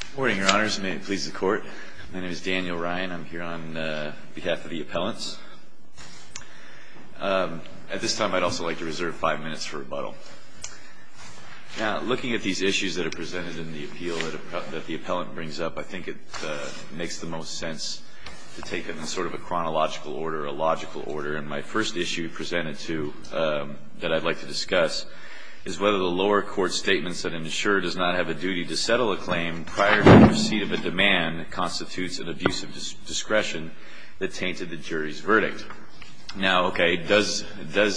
Good morning, Your Honors, and may it please the Court, my name is Daniel Ryan, I'm here on behalf of the appellants. At this time, I'd also like to reserve five minutes for rebuttal. Now, looking at these issues that are presented in the appeal that the appellant brings up, I think it makes the most sense to take them in sort of a chronological order, a logical order, and my first issue presented to you that I'd like to discuss is whether the lower court statements that an insurer does not have a duty to settle a claim prior to receipt of a demand constitutes an abuse of discretion that tainted the jury's verdict. Now, okay, does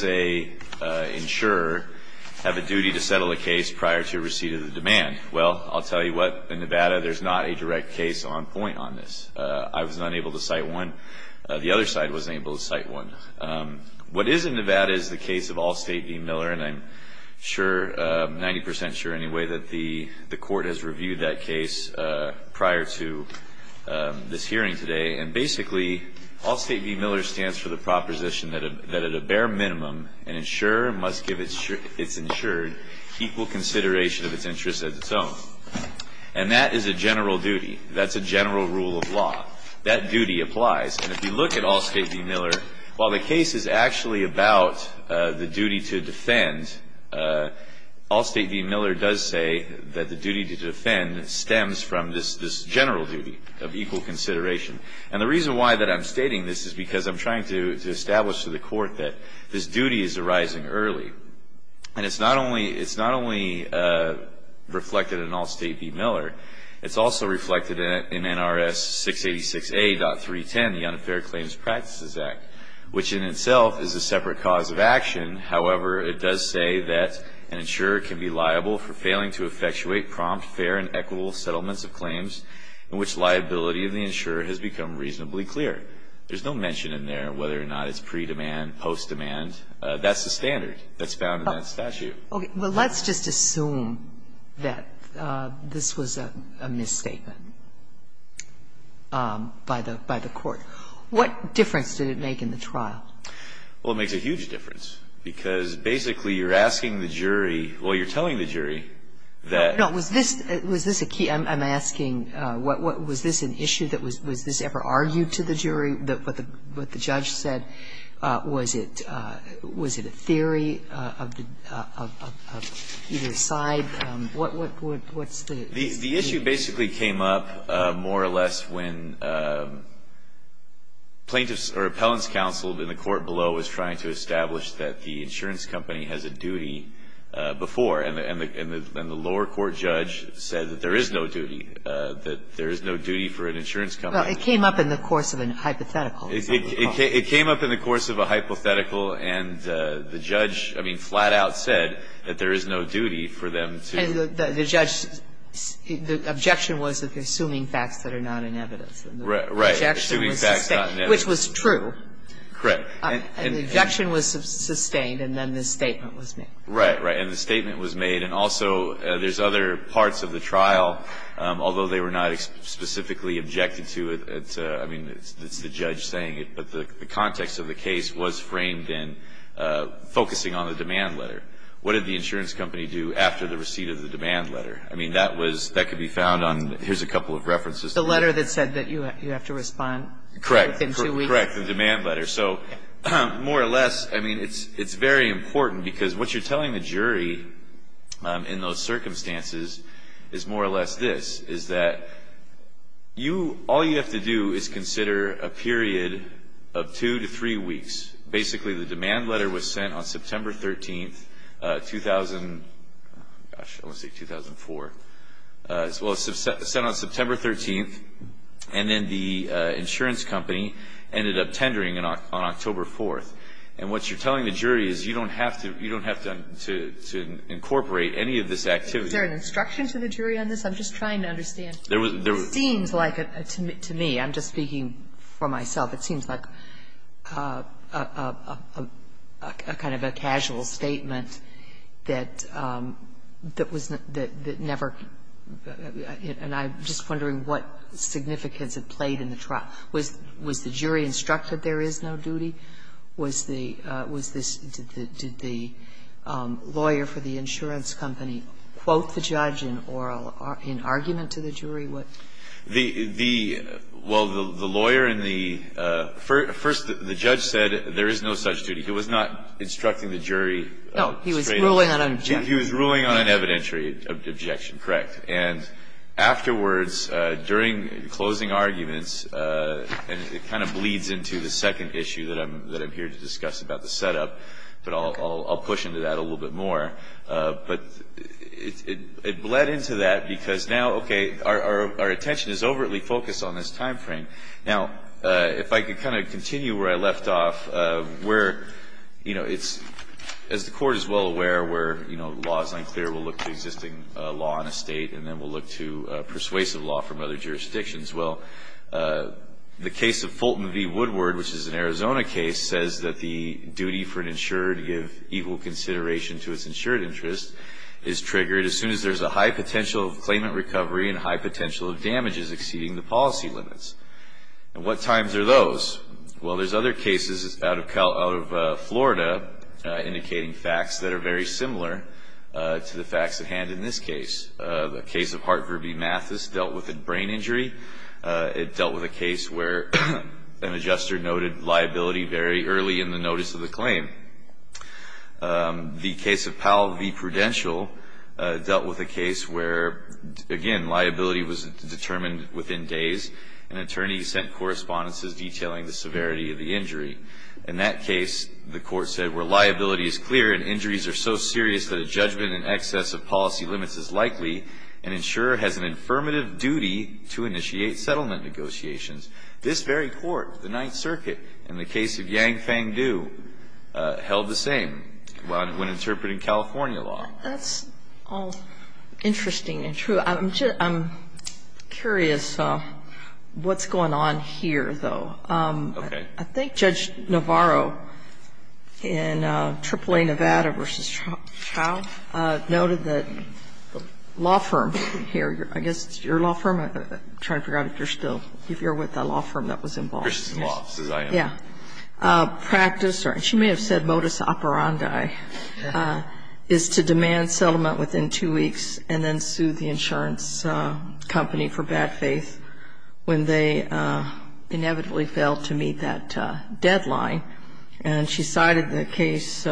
an insurer have a duty to settle a case prior to receipt of the demand? Well, I'll tell you what, in Nevada, there's not a direct case on point on this. I was unable to cite one. The other side wasn't able to cite one. What is in Nevada is the case of Allstate v. Miller, and I'm sure, 90% sure anyway, that the court has reviewed that case prior to this hearing today. And basically, Allstate v. Miller stands for the proposition that at a bare minimum, an insurer must give its insured equal consideration of its interests as its own. And that is a general duty. That's a general rule of law. That duty applies. And if you look at Allstate v. Miller, while the case is actually about the duty to defend, Allstate v. Miller does say that the duty to defend stems from this general duty of equal consideration. And the reason why I'm stating this is because I'm trying to establish to the court that this duty is arising early. And it's not only reflected in Allstate v. Miller, it's also reflected in NRS 686A.310, the Unfair Claims Practices Act, which in itself is a separate cause of action. However, it does say that an insurer can be liable for failing to effectuate prompt, fair and equitable settlements of claims in which liability of the insurer has become reasonably clear. There's no mention in there whether or not it's pre-demand, post-demand. That's the standard that's found in that statute. Sotomayor, let's just assume that this was a misstatement by the court. What difference did it make in the trial? Well, it makes a huge difference, because basically you're asking the jury, well, you're telling the jury that No. Was this a key? I'm asking, was this an issue that was, was this ever argued to the jury? What the judge said, was it a theory of either side? What's the issue? The issue basically came up more or less when plaintiffs or appellants counseled in the court below was trying to establish that the insurance company has a duty before, and the lower court judge said that there is no duty, that there is no duty for an insurance company. Well, it came up in the course of a hypothetical. It came up in the course of a hypothetical, and the judge, I mean, flat out said that there is no duty for them to. And the judge, the objection was that they're assuming facts that are not inevitable. Right. Assuming facts not inevitable. Which was true. Correct. And the objection was sustained, and then the statement was made. Right, right. And the statement was made. And also, there's other parts of the trial, although they were not specifically objected to it, I mean, it's the judge saying it, but the context of the case was framed in focusing on the demand letter. What did the insurance company do after the receipt of the demand letter? I mean, that was, that could be found on, here's a couple of references. The letter that said that you have to respond. Correct. Within two weeks. Correct, the demand letter. So more or less, I mean, it's very important, because what you're telling the jury in those circumstances is more or less this. Is that you, all you have to do is consider a period of two to three weeks. Basically, the demand letter was sent on September 13th, 2000, gosh, I want to say 2004. Well, it was sent on September 13th, and then the insurance company ended up tendering on October 4th. And what you're telling the jury is you don't have to, you don't have to incorporate any of this activity. Is there an instruction to the jury on this? I'm just trying to understand. There was, there was. It seems like, to me, I'm just speaking for myself, it seems like a kind of a casual statement that was never, and I'm just wondering what significance it played in the trial. Was the jury instructed there is no duty? Was the, was this, did the lawyer for the insurance company quote the judge in oral argument to the jury? The, the, well, the lawyer in the, first the judge said there is no such duty. He was not instructing the jury. No. He was ruling on an objection. He was ruling on an evidentiary objection, correct. And afterwards, during closing arguments, and it kind of bleeds into the second issue that I'm, that I'm here to discuss about the setup, but I'll, I'll, I'll push into that a little bit more. But it, it, it bled into that because now, okay, our, our, our attention is overtly focused on this timeframe. Now, if I could kind of continue where I left off, where, you know, it's, as the Court is well aware, where, you know, the law is unclear, we'll look to existing law in a state, and then we'll look to persuasive law from other jurisdictions. Well, the case of Fulton v. Woodward, which is an Arizona case, says that the duty for an insurer to give equal consideration to its insured interest is triggered as soon as there's a high potential of claimant recovery and high potential of damages exceeding the policy limits. And what times are those? Well, there's other cases out of Cal, out of Florida, indicating facts that are very similar to the facts at hand in this case. The case of Hartford v. Mathis dealt with a brain injury. It dealt with a case where an adjuster noted liability very early in the notice of the claim. The case of Powell v. Prudential dealt with a case where, again, liability was determined within days, and attorneys sent correspondences detailing the severity of the injury. In that case, the Court said, where liability is clear and injuries are so serious that a insurer has an affirmative duty to initiate settlement negotiations. This very Court, the Ninth Circuit, in the case of Yang-Fang Du, held the same when interpreting California law. That's all interesting and true. I'm curious what's going on here, though. Okay. I think Judge Navarro in AAA Nevada v. Chow noted that the law firm here, I guess your law firm, I'm trying to figure out if you're still, if you're with the law firm that was involved. Yeah. Practice, or she may have said modus operandi, is to demand settlement within two weeks and then sue the insurance company for bad faith when they inevitably fail to meet that deadline. And she cited the case,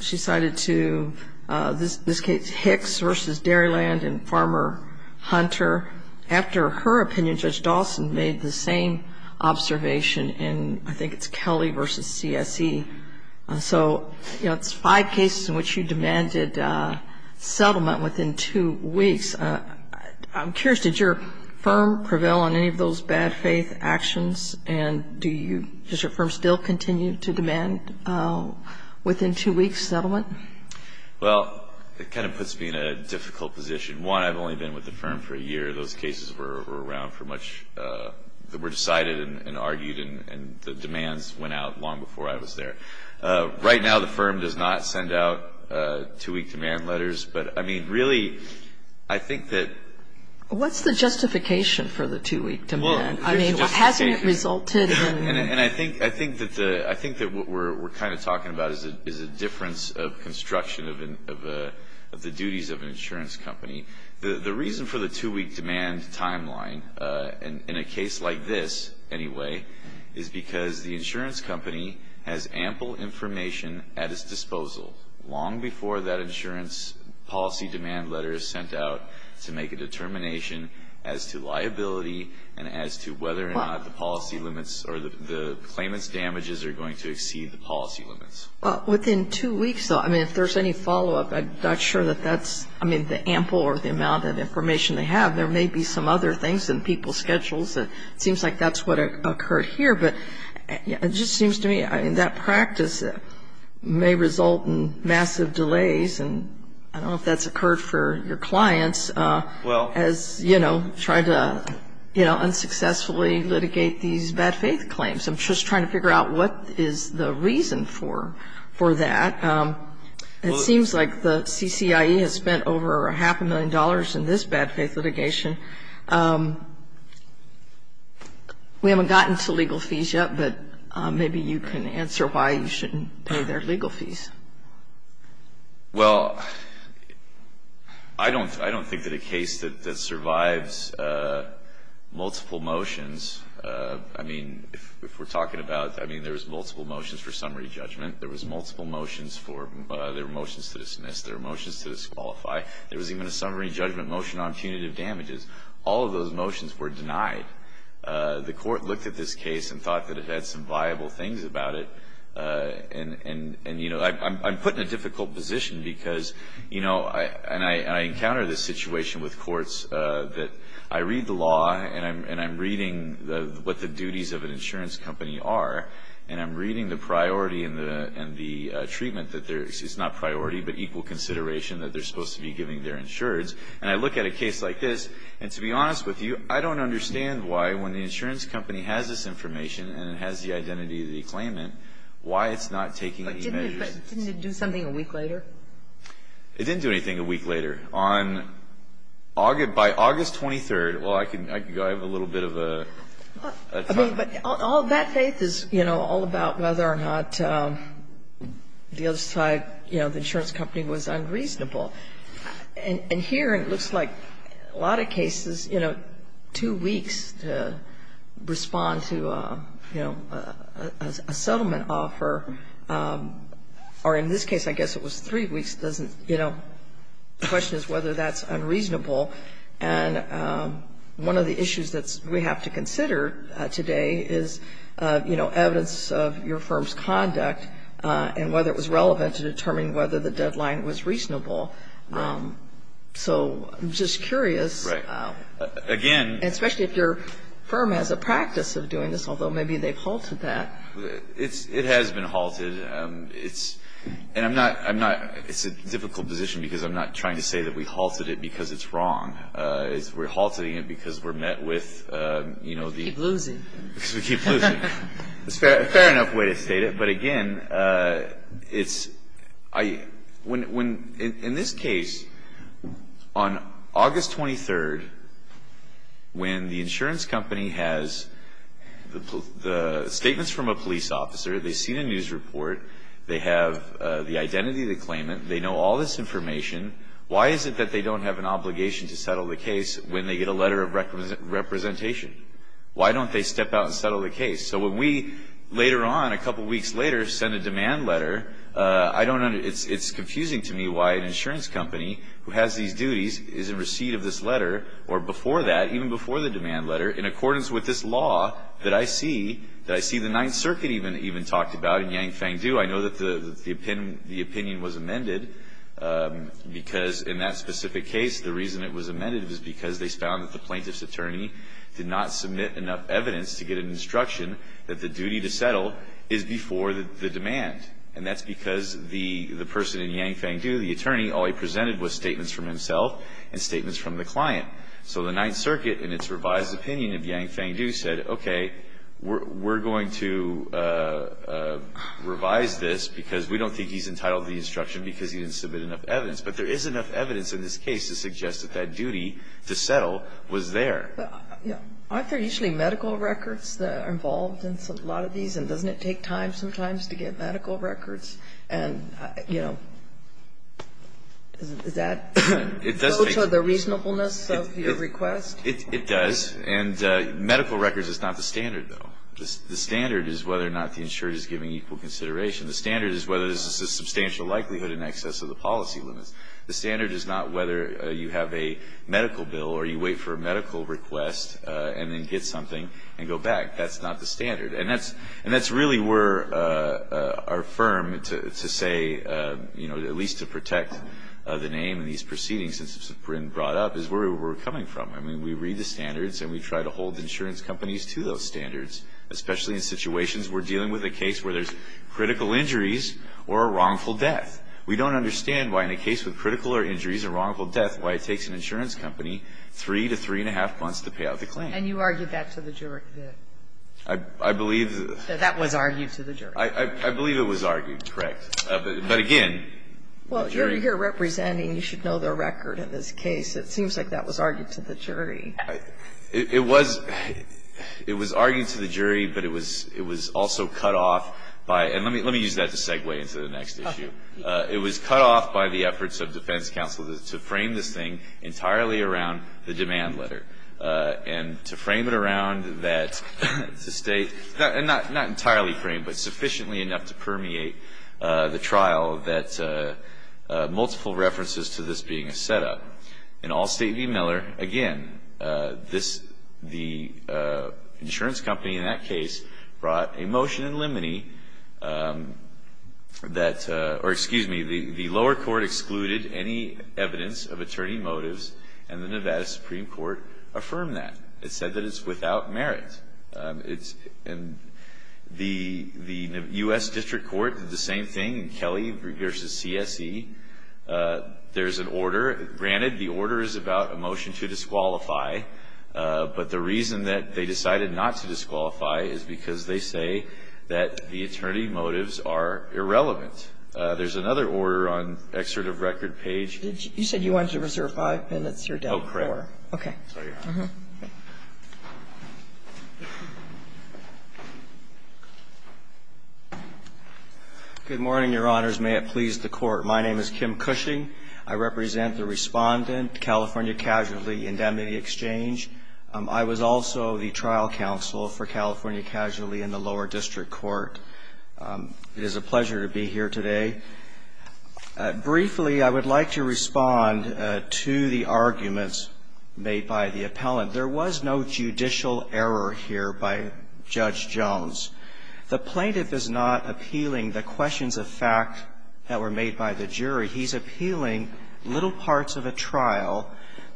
she cited to this case Hicks v. Dairyland and Farmer Hunter. After her opinion, Judge Dawson made the same observation in, I think it's Kelly v. CSE. So, you know, it's five cases in which you demanded settlement within two weeks. I'm curious, did your firm prevail on any of those bad faith actions? And do you, does your firm still continue to demand within two weeks settlement? Well, it kind of puts me in a difficult position. One, I've only been with the firm for a year. Those cases were around for much, were decided and argued and the demands went out long before I was there. Right now, the firm does not send out two-week demand letters. But, I mean, really, I think that ---- What's the justification for the two-week demand? I mean, hasn't it resulted in ---- And I think that the, I think that what we're kind of talking about is a difference of construction of the duties of an insurance company. The reason for the two-week demand timeline, in a case like this anyway, is because the insurance company has ample information at its disposal long before that insurance policy demand letter is sent out to make a determination as to liability and as to whether or not the policy limits or the claimant's damages are going to exceed the policy limits. Well, within two weeks, though, I mean, if there's any follow-up, I'm not sure that that's, I mean, the ample or the amount of information they have. There may be some other things in people's schedules. It seems like that's what occurred here. But it just seems to me, I mean, that practice may result in massive delays. And I don't know if that's occurred for your clients as, you know, try to, you know, unsuccessfully litigate these bad faith claims. I'm just trying to figure out what is the reason for that. It seems like the CCIE has spent over half a million dollars in this bad faith litigation. We haven't gotten to legal fees yet, but maybe you can answer why you shouldn't pay their legal fees. Well, I don't think that a case that survives multiple motions, I mean, if we're talking about, I mean, there was multiple motions for summary judgment. There was multiple motions for, there were motions to dismiss. There were motions to disqualify. There was even a summary judgment motion on punitive damages. All of those motions were denied. The court looked at this case and thought that it had some viable things about it. And, you know, I'm put in a difficult position because, you know, and I encounter this situation with courts that I read the law, and I'm reading what the duties of an insurance company are, and I'm reading the priority and the treatment that there is. It's not priority, but equal consideration that they're supposed to be giving their insureds. And I look at a case like this, and to be honest with you, I don't understand why when the insurance company has this information and it has the identity of the claimant, why it's not taking any measures. But didn't it do something a week later? It didn't do anything a week later. On August, by August 23rd, well, I can go. I have a little bit of a time. I mean, but all that faith is, you know, all about whether or not the other side, you know, the insurance company was unreasonable. And here it looks like a lot of cases, you know, two weeks to respond to, you know, a settlement offer, or in this case, I guess it was three weeks, doesn't, you know, the question is whether that's unreasonable. And one of the issues that we have to consider today is, you know, evidence of your firm's conduct and whether it was relevant to determine whether the deadline was reasonable. So I'm just curious. Right. Again. Especially if your firm has a practice of doing this, although maybe they've halted that. It has been halted. And I'm not, it's a difficult position because I'm not trying to say that we halted it because it's wrong. We're halting it because we're met with, you know, the. We keep losing. Because we keep losing. Fair enough way to state it. But again, it's, when, in this case, on August 23rd, when the insurance company has the statements from a police officer, they see the news report, they have the identity of the claimant, they know all this information, why is it that they don't have an obligation to settle the case when they get a letter of representation? Why don't they step out and settle the case? So when we later on, a couple weeks later, send a demand letter, I don't, it's confusing to me why an insurance company who has these duties is in receipt of this letter or before that, even before the demand letter, in accordance with this law that I see, that I see the Ninth Circuit even talked about in Yang Feng Du. I know that the opinion was amended because in that specific case, the reason it was amended was because they found that the plaintiff's attorney did not submit enough evidence to get an instruction that the duty to settle is before the demand. And that's because the person in Yang Feng Du, the attorney, all he presented was statements from himself and statements from the client. So the Ninth Circuit, in its revised opinion of Yang Feng Du, said, okay, we're going to revise this because we don't think he's entitled to the instruction because he didn't submit enough evidence. But there is enough evidence in this case to suggest that that duty to settle was there. But aren't there usually medical records that are involved in a lot of these? And doesn't it take time sometimes to get medical records? And, you know, is that the reasonableness of your request? It does. And medical records is not the standard, though. The standard is whether or not the insurer is giving equal consideration. The standard is whether there's a substantial likelihood in excess of the policy limits. The standard is not whether you have a medical bill or you wait for a medical request and then get something and go back. That's not the standard. And that's really where our firm, to say, you know, at least to protect the name and these proceedings since it's been brought up, is where we're coming from. I mean, we read the standards and we try to hold insurance companies to those standards, especially in situations where we're dealing with a case where there's critical injuries or a wrongful death. We don't understand why in a case with critical injuries or wrongful death why it takes an insurance company three to three and a half months to pay out the claim. And you argued that to the jury? I believe that. That was argued to the jury. I believe it was argued, correct. But, again, jury. Well, you're here representing. You should know the record in this case. It seems like that was argued to the jury. It was argued to the jury, but it was also cut off by, and let me use that to segue into the next issue. It was cut off by the efforts of defense counsel to frame this thing entirely around the demand letter. And to frame it around that, to state, not entirely framed, but sufficiently enough to permeate the trial that multiple references to this being a setup. In Allstate v. Miller, again, the insurance company in that case brought a motion in limine that, or excuse me, the lower court excluded any evidence of attorney motives, and the Nevada Supreme Court affirmed that. It said that it's without merit. And the U.S. District Court did the same thing in Kelly v. CSE. There's an order. Granted, the order is about a motion to disqualify. But the reason that they decided not to disqualify is because they say that the attorney motives are irrelevant. There's another order on the excerpt of record page. You said you wanted to reserve five minutes. You're down to four. Oh, correct. Okay. Uh-huh. Good morning, Your Honors. May it please the Court. My name is Kim Cushing. I represent the Respondent, California Casualty Indemnity Exchange. I was also the trial counsel for California Casualty in the lower district court. It is a pleasure to be here today. Briefly, I would like to respond to the arguments made by the appellant. There was no judicial error here by Judge Jones. The plaintiff is not appealing the questions of fact that were made by the jury. He's appealing little parts of a trial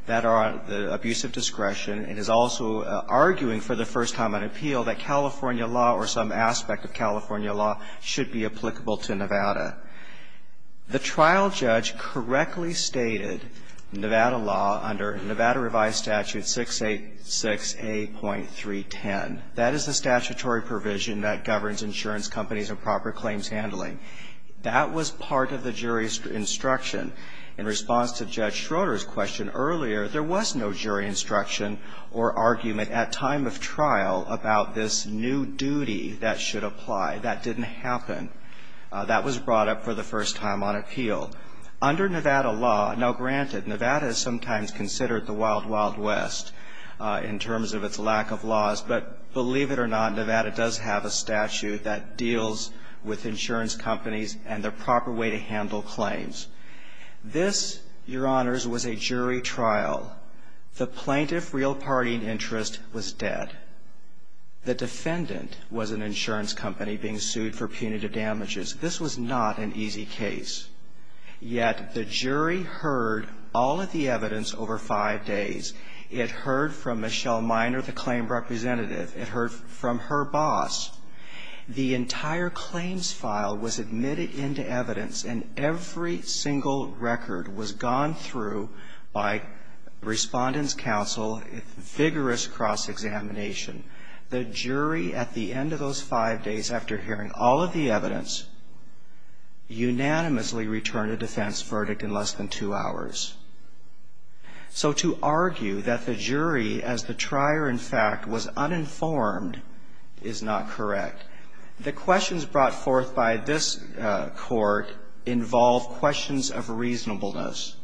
that are on the abuse of discretion and is also arguing for the first time on appeal that California law or some aspect of California law should be applicable to Nevada. The trial judge correctly stated Nevada law under Nevada Revised Statute 686A.310. That is the statutory provision that governs insurance companies and proper claims handling. That was part of the jury's instruction. In response to Judge Schroeder's question earlier, there was no jury instruction or argument at time of trial about this new duty that should apply. That didn't happen. That was brought up for the first time on appeal. Under Nevada law, now granted, Nevada is sometimes considered the wild, wild west in terms of its lack of laws. But believe it or not, Nevada does have a statute that deals with insurance companies and the proper way to handle claims. This, Your Honors, was a jury trial. The plaintiff real party interest was dead. The defendant was an insurance company being sued for punitive damages. This was not an easy case. Yet the jury heard all of the evidence over five days. It heard from Michelle Minor, the claim representative. It heard from her boss. The entire claims file was admitted into evidence, and every single record was gone through by Respondent's Counsel, vigorous cross-examination. The jury, at the end of those five days after hearing all of the evidence, unanimously returned a defense verdict in less than two hours. So to argue that the jury, as the trier in fact, was uninformed is not correct. The questions brought forth by this court involve questions of reasonableness.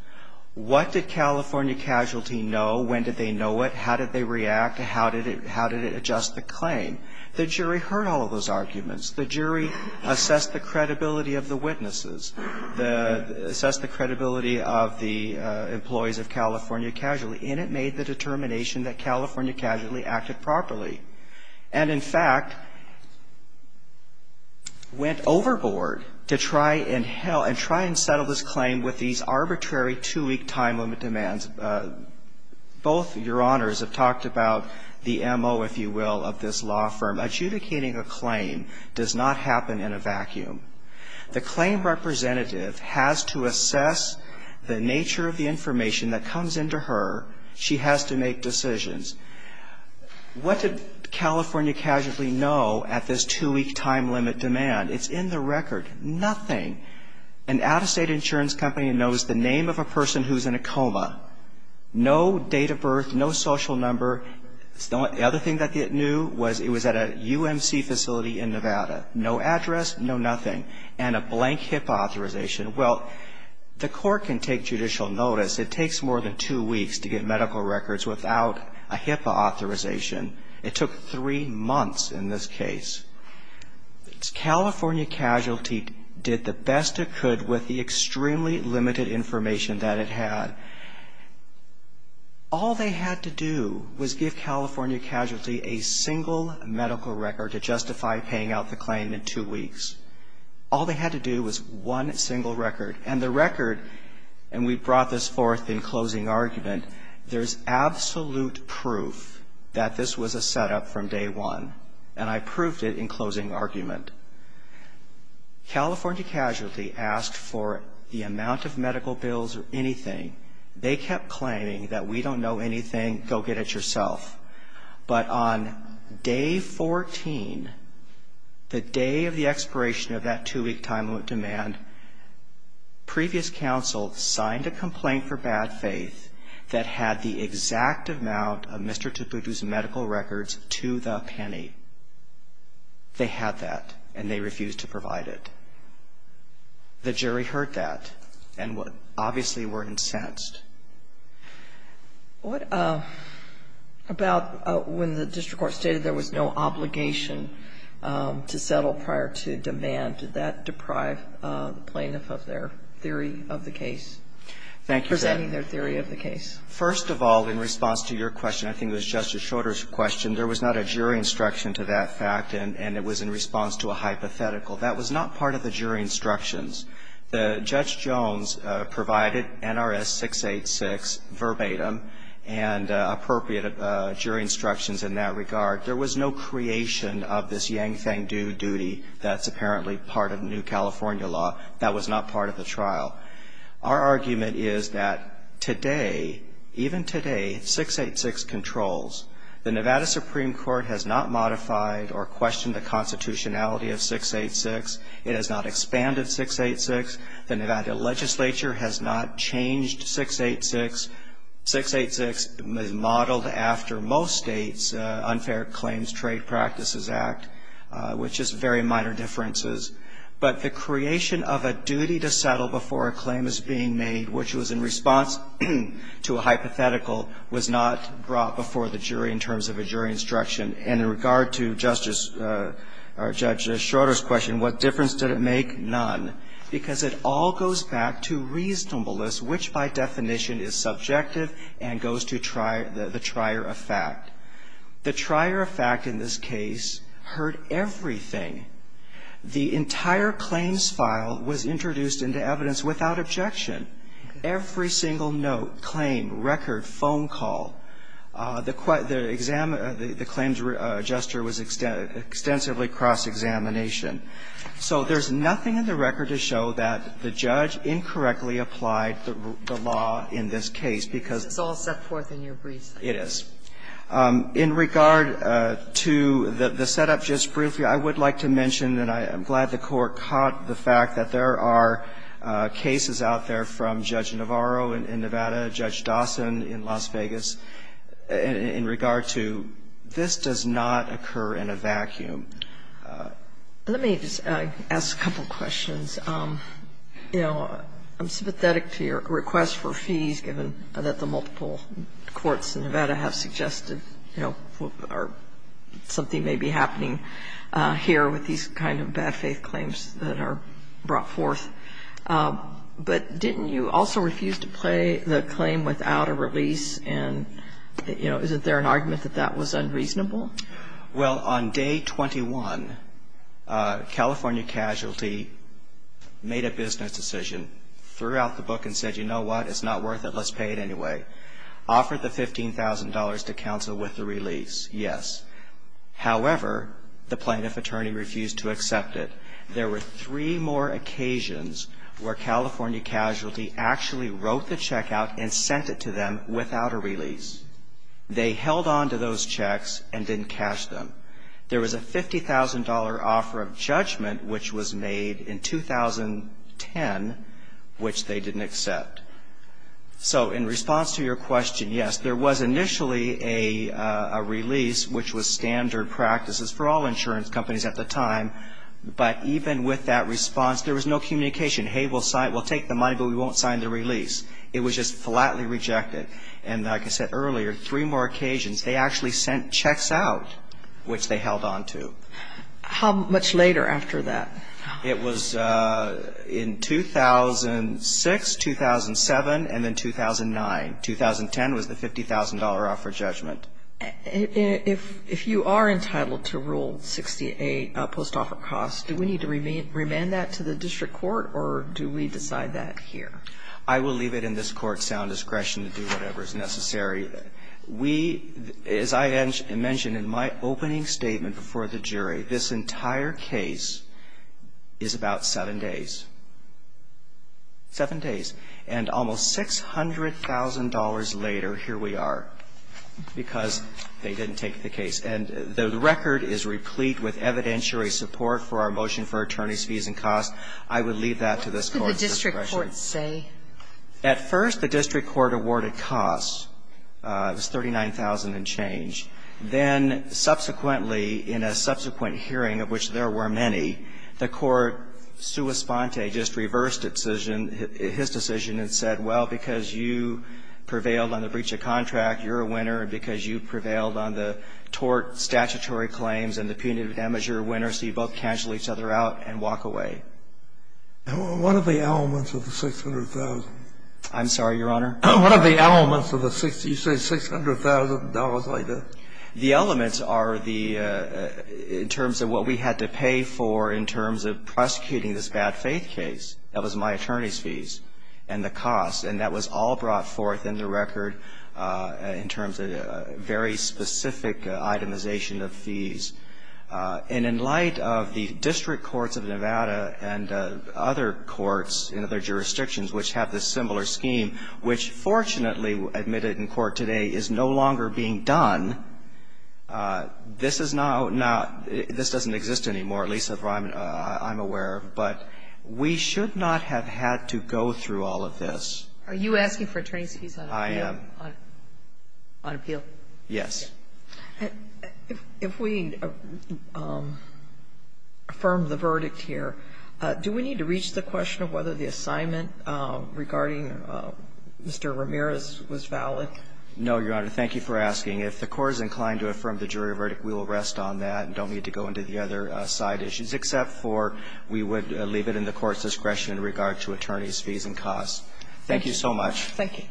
What did California Casualty know? When did they know it? How did they react? How did it adjust the claim? The jury heard all of those arguments. The jury assessed the credibility of the witnesses. Assessed the credibility of the employees of California Casualty. And it made the determination that California Casualty acted properly. And in fact, went overboard to try and settle this claim with these arbitrary two-week time limit demands. Both Your Honors have talked about the M.O., if you will, of this law firm. The claim representative has to assess the nature of the information that comes into her. She has to make decisions. What did California Casualty know at this two-week time limit demand? It's in the record. Nothing. An out-of-state insurance company knows the name of a person who's in a coma. No date of birth. No social number. The other thing that it knew was it was at a UMC facility in Nevada. No address. No nothing. And a blank HIPAA authorization. Well, the court can take judicial notice. It takes more than two weeks to get medical records without a HIPAA authorization. It took three months in this case. California Casualty did the best it could with the extremely limited information that it had. All they had to do was give California Casualty a single medical record to justify paying out the claim in two weeks. All they had to do was one single record. And the record, and we brought this forth in closing argument, there's absolute proof that this was a setup from day one. And I proved it in closing argument. California Casualty asked for the amount of medical bills or anything. They kept claiming that we don't know anything, go get it yourself. But on day 14, the day of the expiration of that two-week time limit demand, previous counsel signed a complaint for bad faith that had the exact amount of Mr. Tabutu's medical records to the penny. They had that, and they refused to provide it. The jury heard that and obviously were incensed. What about when the district court stated there was no obligation to settle prior to demand? Did that deprive the plaintiff of their theory of the case? Thank you, Judge. Presenting their theory of the case. First of all, in response to your question, I think it was Justice Schroeder's question, there was not a jury instruction to that fact, and it was in response to a hypothetical. That was not part of the jury instructions. Judge Jones provided NRS 686 verbatim and appropriate jury instructions in that regard. There was no creation of this Yang Feng Du duty that's apparently part of new California law. That was not part of the trial. Our argument is that today, even today, 686 controls. The Nevada Supreme Court has not modified or questioned the constitutionality of 686. It has not expanded 686. The Nevada legislature has not changed 686. 686 is modeled after most states unfair claims trade practices act, which is very minor differences. But the creation of a duty to settle before a claim is being made, which was in response to a hypothetical, was not brought before the jury in terms of a jury instruction. And in regard to Justice or Judge Schroeder's question, what difference did it make? None. Because it all goes back to reasonableness, which by definition is subjective and goes to the trier of fact. The trier of fact in this case heard everything. The entire claims file was introduced into evidence without objection. Every single note, claim, record, phone call. The claim's gesture was extensively cross-examination. So there's nothing in the record to show that the judge incorrectly applied the law in this case, because it's all set forth in your brief. It is. In regard to the setup, just briefly, I would like to mention, and I'm glad the Court caught the fact that there are cases out there from Judge Navarro in Nevada, Judge Dawson in Las Vegas, in regard to this does not occur in a vacuum. Let me just ask a couple questions. You know, I'm sympathetic to your request for fees, given that the multiple courts in Nevada have suggested, you know, something may be happening here with these kind of bad faith claims that are brought forth. But didn't you also refuse to play the claim without a release? And, you know, isn't there an argument that that was unreasonable? Well, on day 21, California casualty made a business decision, threw out the book and said, you know what, it's not worth it, let's pay it anyway. Offered the $15,000 to counsel with the release, yes. However, the plaintiff attorney refused to accept it. There were three more occasions where California casualty actually wrote the check out and sent it to them without a release. They held on to those checks and didn't cash them. There was a $50,000 offer of judgment, which was made in 2010, which they didn't accept. So in response to your question, yes, there was initially a release, which was there was no communication, hey, we'll take the money, but we won't sign the release. It was just flatly rejected. And like I said earlier, three more occasions, they actually sent checks out, which they held on to. How much later after that? It was in 2006, 2007, and then 2009. 2010 was the $50,000 offer of judgment. Sotomayor, if you are entitled to Rule 68, post-offer costs, do we need to remand that to the district court, or do we decide that here? I will leave it in this Court's sound discretion to do whatever is necessary. We, as I mentioned in my opening statement before the jury, this entire case is about seven days. Seven days. And almost $600,000 later, here we are, because they didn't take the case. And the record is replete with evidentiary support for our motion for attorneys' fees and costs. I would leave that to this Court's discretion. What did the district court say? At first, the district court awarded costs. It was $39,000 and change. Then subsequently, in a subsequent hearing, of which there were many, the court just reversed its decision, his decision, and said, well, because you prevailed on the breach of contract, you're a winner, and because you prevailed on the tort statutory claims and the punitive damage, you're a winner, so you both cancel each other out and walk away. What are the elements of the $600,000? I'm sorry, Your Honor? What are the elements of the $600,000? The elements are the, in terms of what we had to pay for in terms of prosecuting this bad faith case. That was my attorney's fees and the cost, and that was all brought forth in the record in terms of very specific itemization of fees. And in light of the district courts of Nevada and other courts in other jurisdictions which have this similar scheme, which fortunately, admitted in this case, is being done, this is now not, this doesn't exist anymore, at least as far as I'm aware of. But we should not have had to go through all of this. Are you asking for attorney's fees on appeal? I am. On appeal? Yes. If we affirm the verdict here, do we need to reach the question of whether the assignment regarding Mr. Ramirez was valid? No, Your Honor. Thank you for asking. If the Court is inclined to affirm the jury verdict, we will rest on that and don't need to go into the other side issues, except for we would leave it in the Court's discretion in regard to attorney's fees and costs. Thank you so much. Thank you.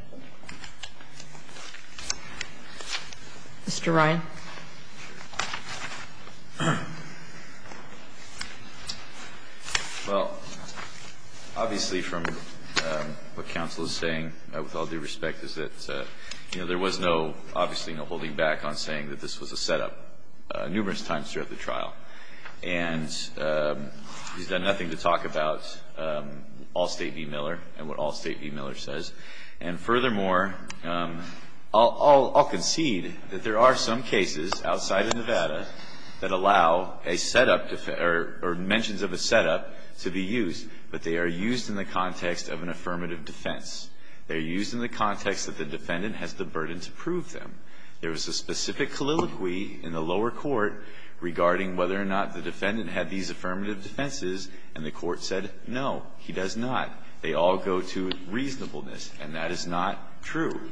Mr. Ryan. Well, obviously from what counsel is saying, with all due respect, is that, you know, there was no, obviously no holding back on saying that this was a setup numerous times throughout the trial. And he's done nothing to talk about Allstate v. Miller and what Allstate v. Miller says. And furthermore, I'll concede that there are some cases outside of Nevada that allow a setup or mentions of a setup to be used, but they are used in the context of an affirmative defense. They're used in the context that the defendant has the burden to prove them. There was a specific colloquy in the lower court regarding whether or not the defendant had these affirmative defenses, and the Court said, no, he does not. They all go to reasonableness. And that is not true.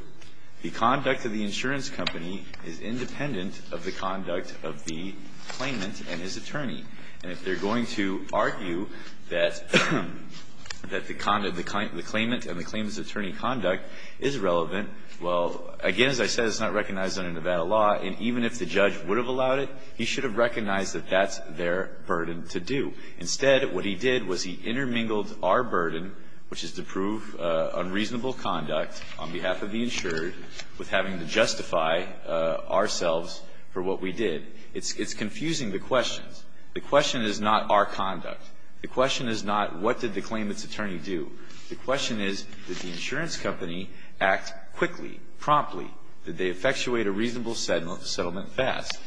The conduct of the insurance company is independent of the conduct of the claimant and his attorney. And if they're going to argue that the conduct, the claimant and the claimant's attorney conduct is relevant, well, again, as I said, it's not recognized under Nevada law. And even if the judge would have allowed it, he should have recognized that that's their burden to do. Instead, what he did was he intermingled our burden, which is to prove unreasonable conduct on behalf of the insured, with having to justify ourselves for what we did. It's confusing the questions. The question is not our conduct. The question is not what did the claimant's attorney do. The question is, did the insurance company act quickly, promptly? Did they effectuate a reasonable settlement fast?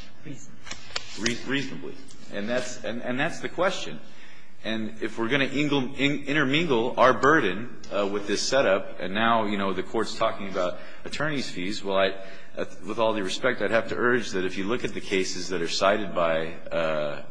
Reasonably. And that's the question. And if we're going to intermingle our burden with this setup, and now, you know, the Court's talking about attorney's fees, well, I, with all due respect, I'd have to urge that if you look at the cases that are cited by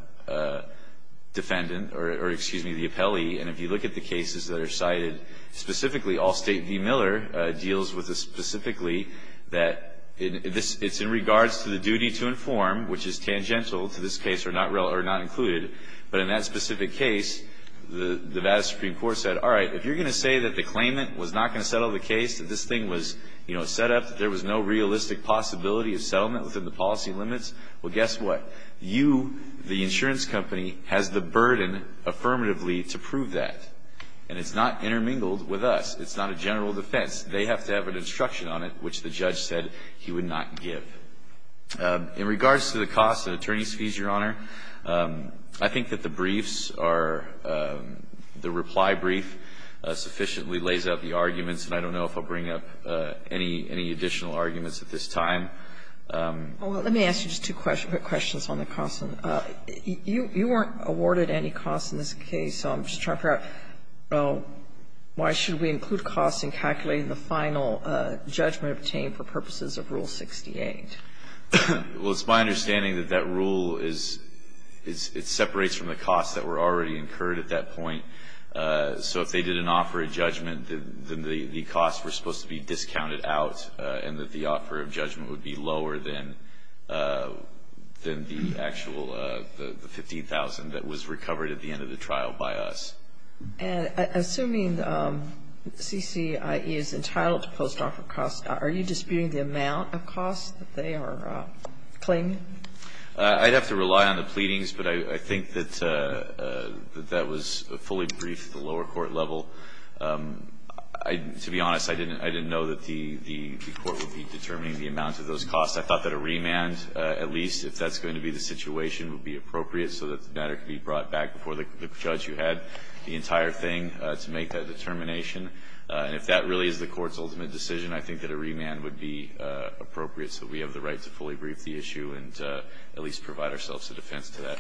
defendant or, excuse me, the appellee, and if you look at the cases that are cited specifically, Allstate v. Miller deals with this specifically, that it's in regards to the duty to inform, which is tangential to this case or not included. But in that specific case, the Vada Supreme Court said, all right, if you're going to say that the claimant was not going to settle the case, that this thing was, you know, set up, that there was no realistic possibility of settlement within the policy limits, well, guess what? You, the insurance company, has the burden, affirmatively, to prove that. And it's not intermingled with us. It's not a general defense. They have to have an instruction on it, which the judge said he would not give. In regards to the cost of attorney's fees, Your Honor, I think that the briefs are the reply brief sufficiently lays out the arguments, and I don't know if I'll bring up any additional arguments at this time. Let me ask you just two quick questions on the costs. You weren't awarded any costs in this case. So I'm just trying to figure out, well, why should we include costs in calculating the final judgment obtained for purposes of Rule 68? Well, it's my understanding that that rule is, it separates from the costs that were already incurred at that point. So if they did an offer of judgment, then the costs were supposed to be discounted out, and that the offer of judgment would be lower than the actual, the 15,000 that was recovered at the end of the trial by us. And assuming CCIE is entitled to post-offer costs, are you disputing the amount of costs that they are claiming? I'd have to rely on the pleadings, but I think that that was a fully briefed at the lower court level. To be honest, I didn't know that the court would be determining the amount of those costs. I thought that a remand, at least if that's going to be the situation, would be appropriate. I thought that there could be brought back before the judge who had the entire thing to make that determination. And if that really is the court's ultimate decision, I think that a remand would be appropriate so that we have the right to fully brief the issue and at least provide ourselves a defense to that.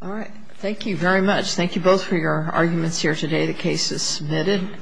All right. Thank you very much. Thank you both for your arguments here today. The case is submitted.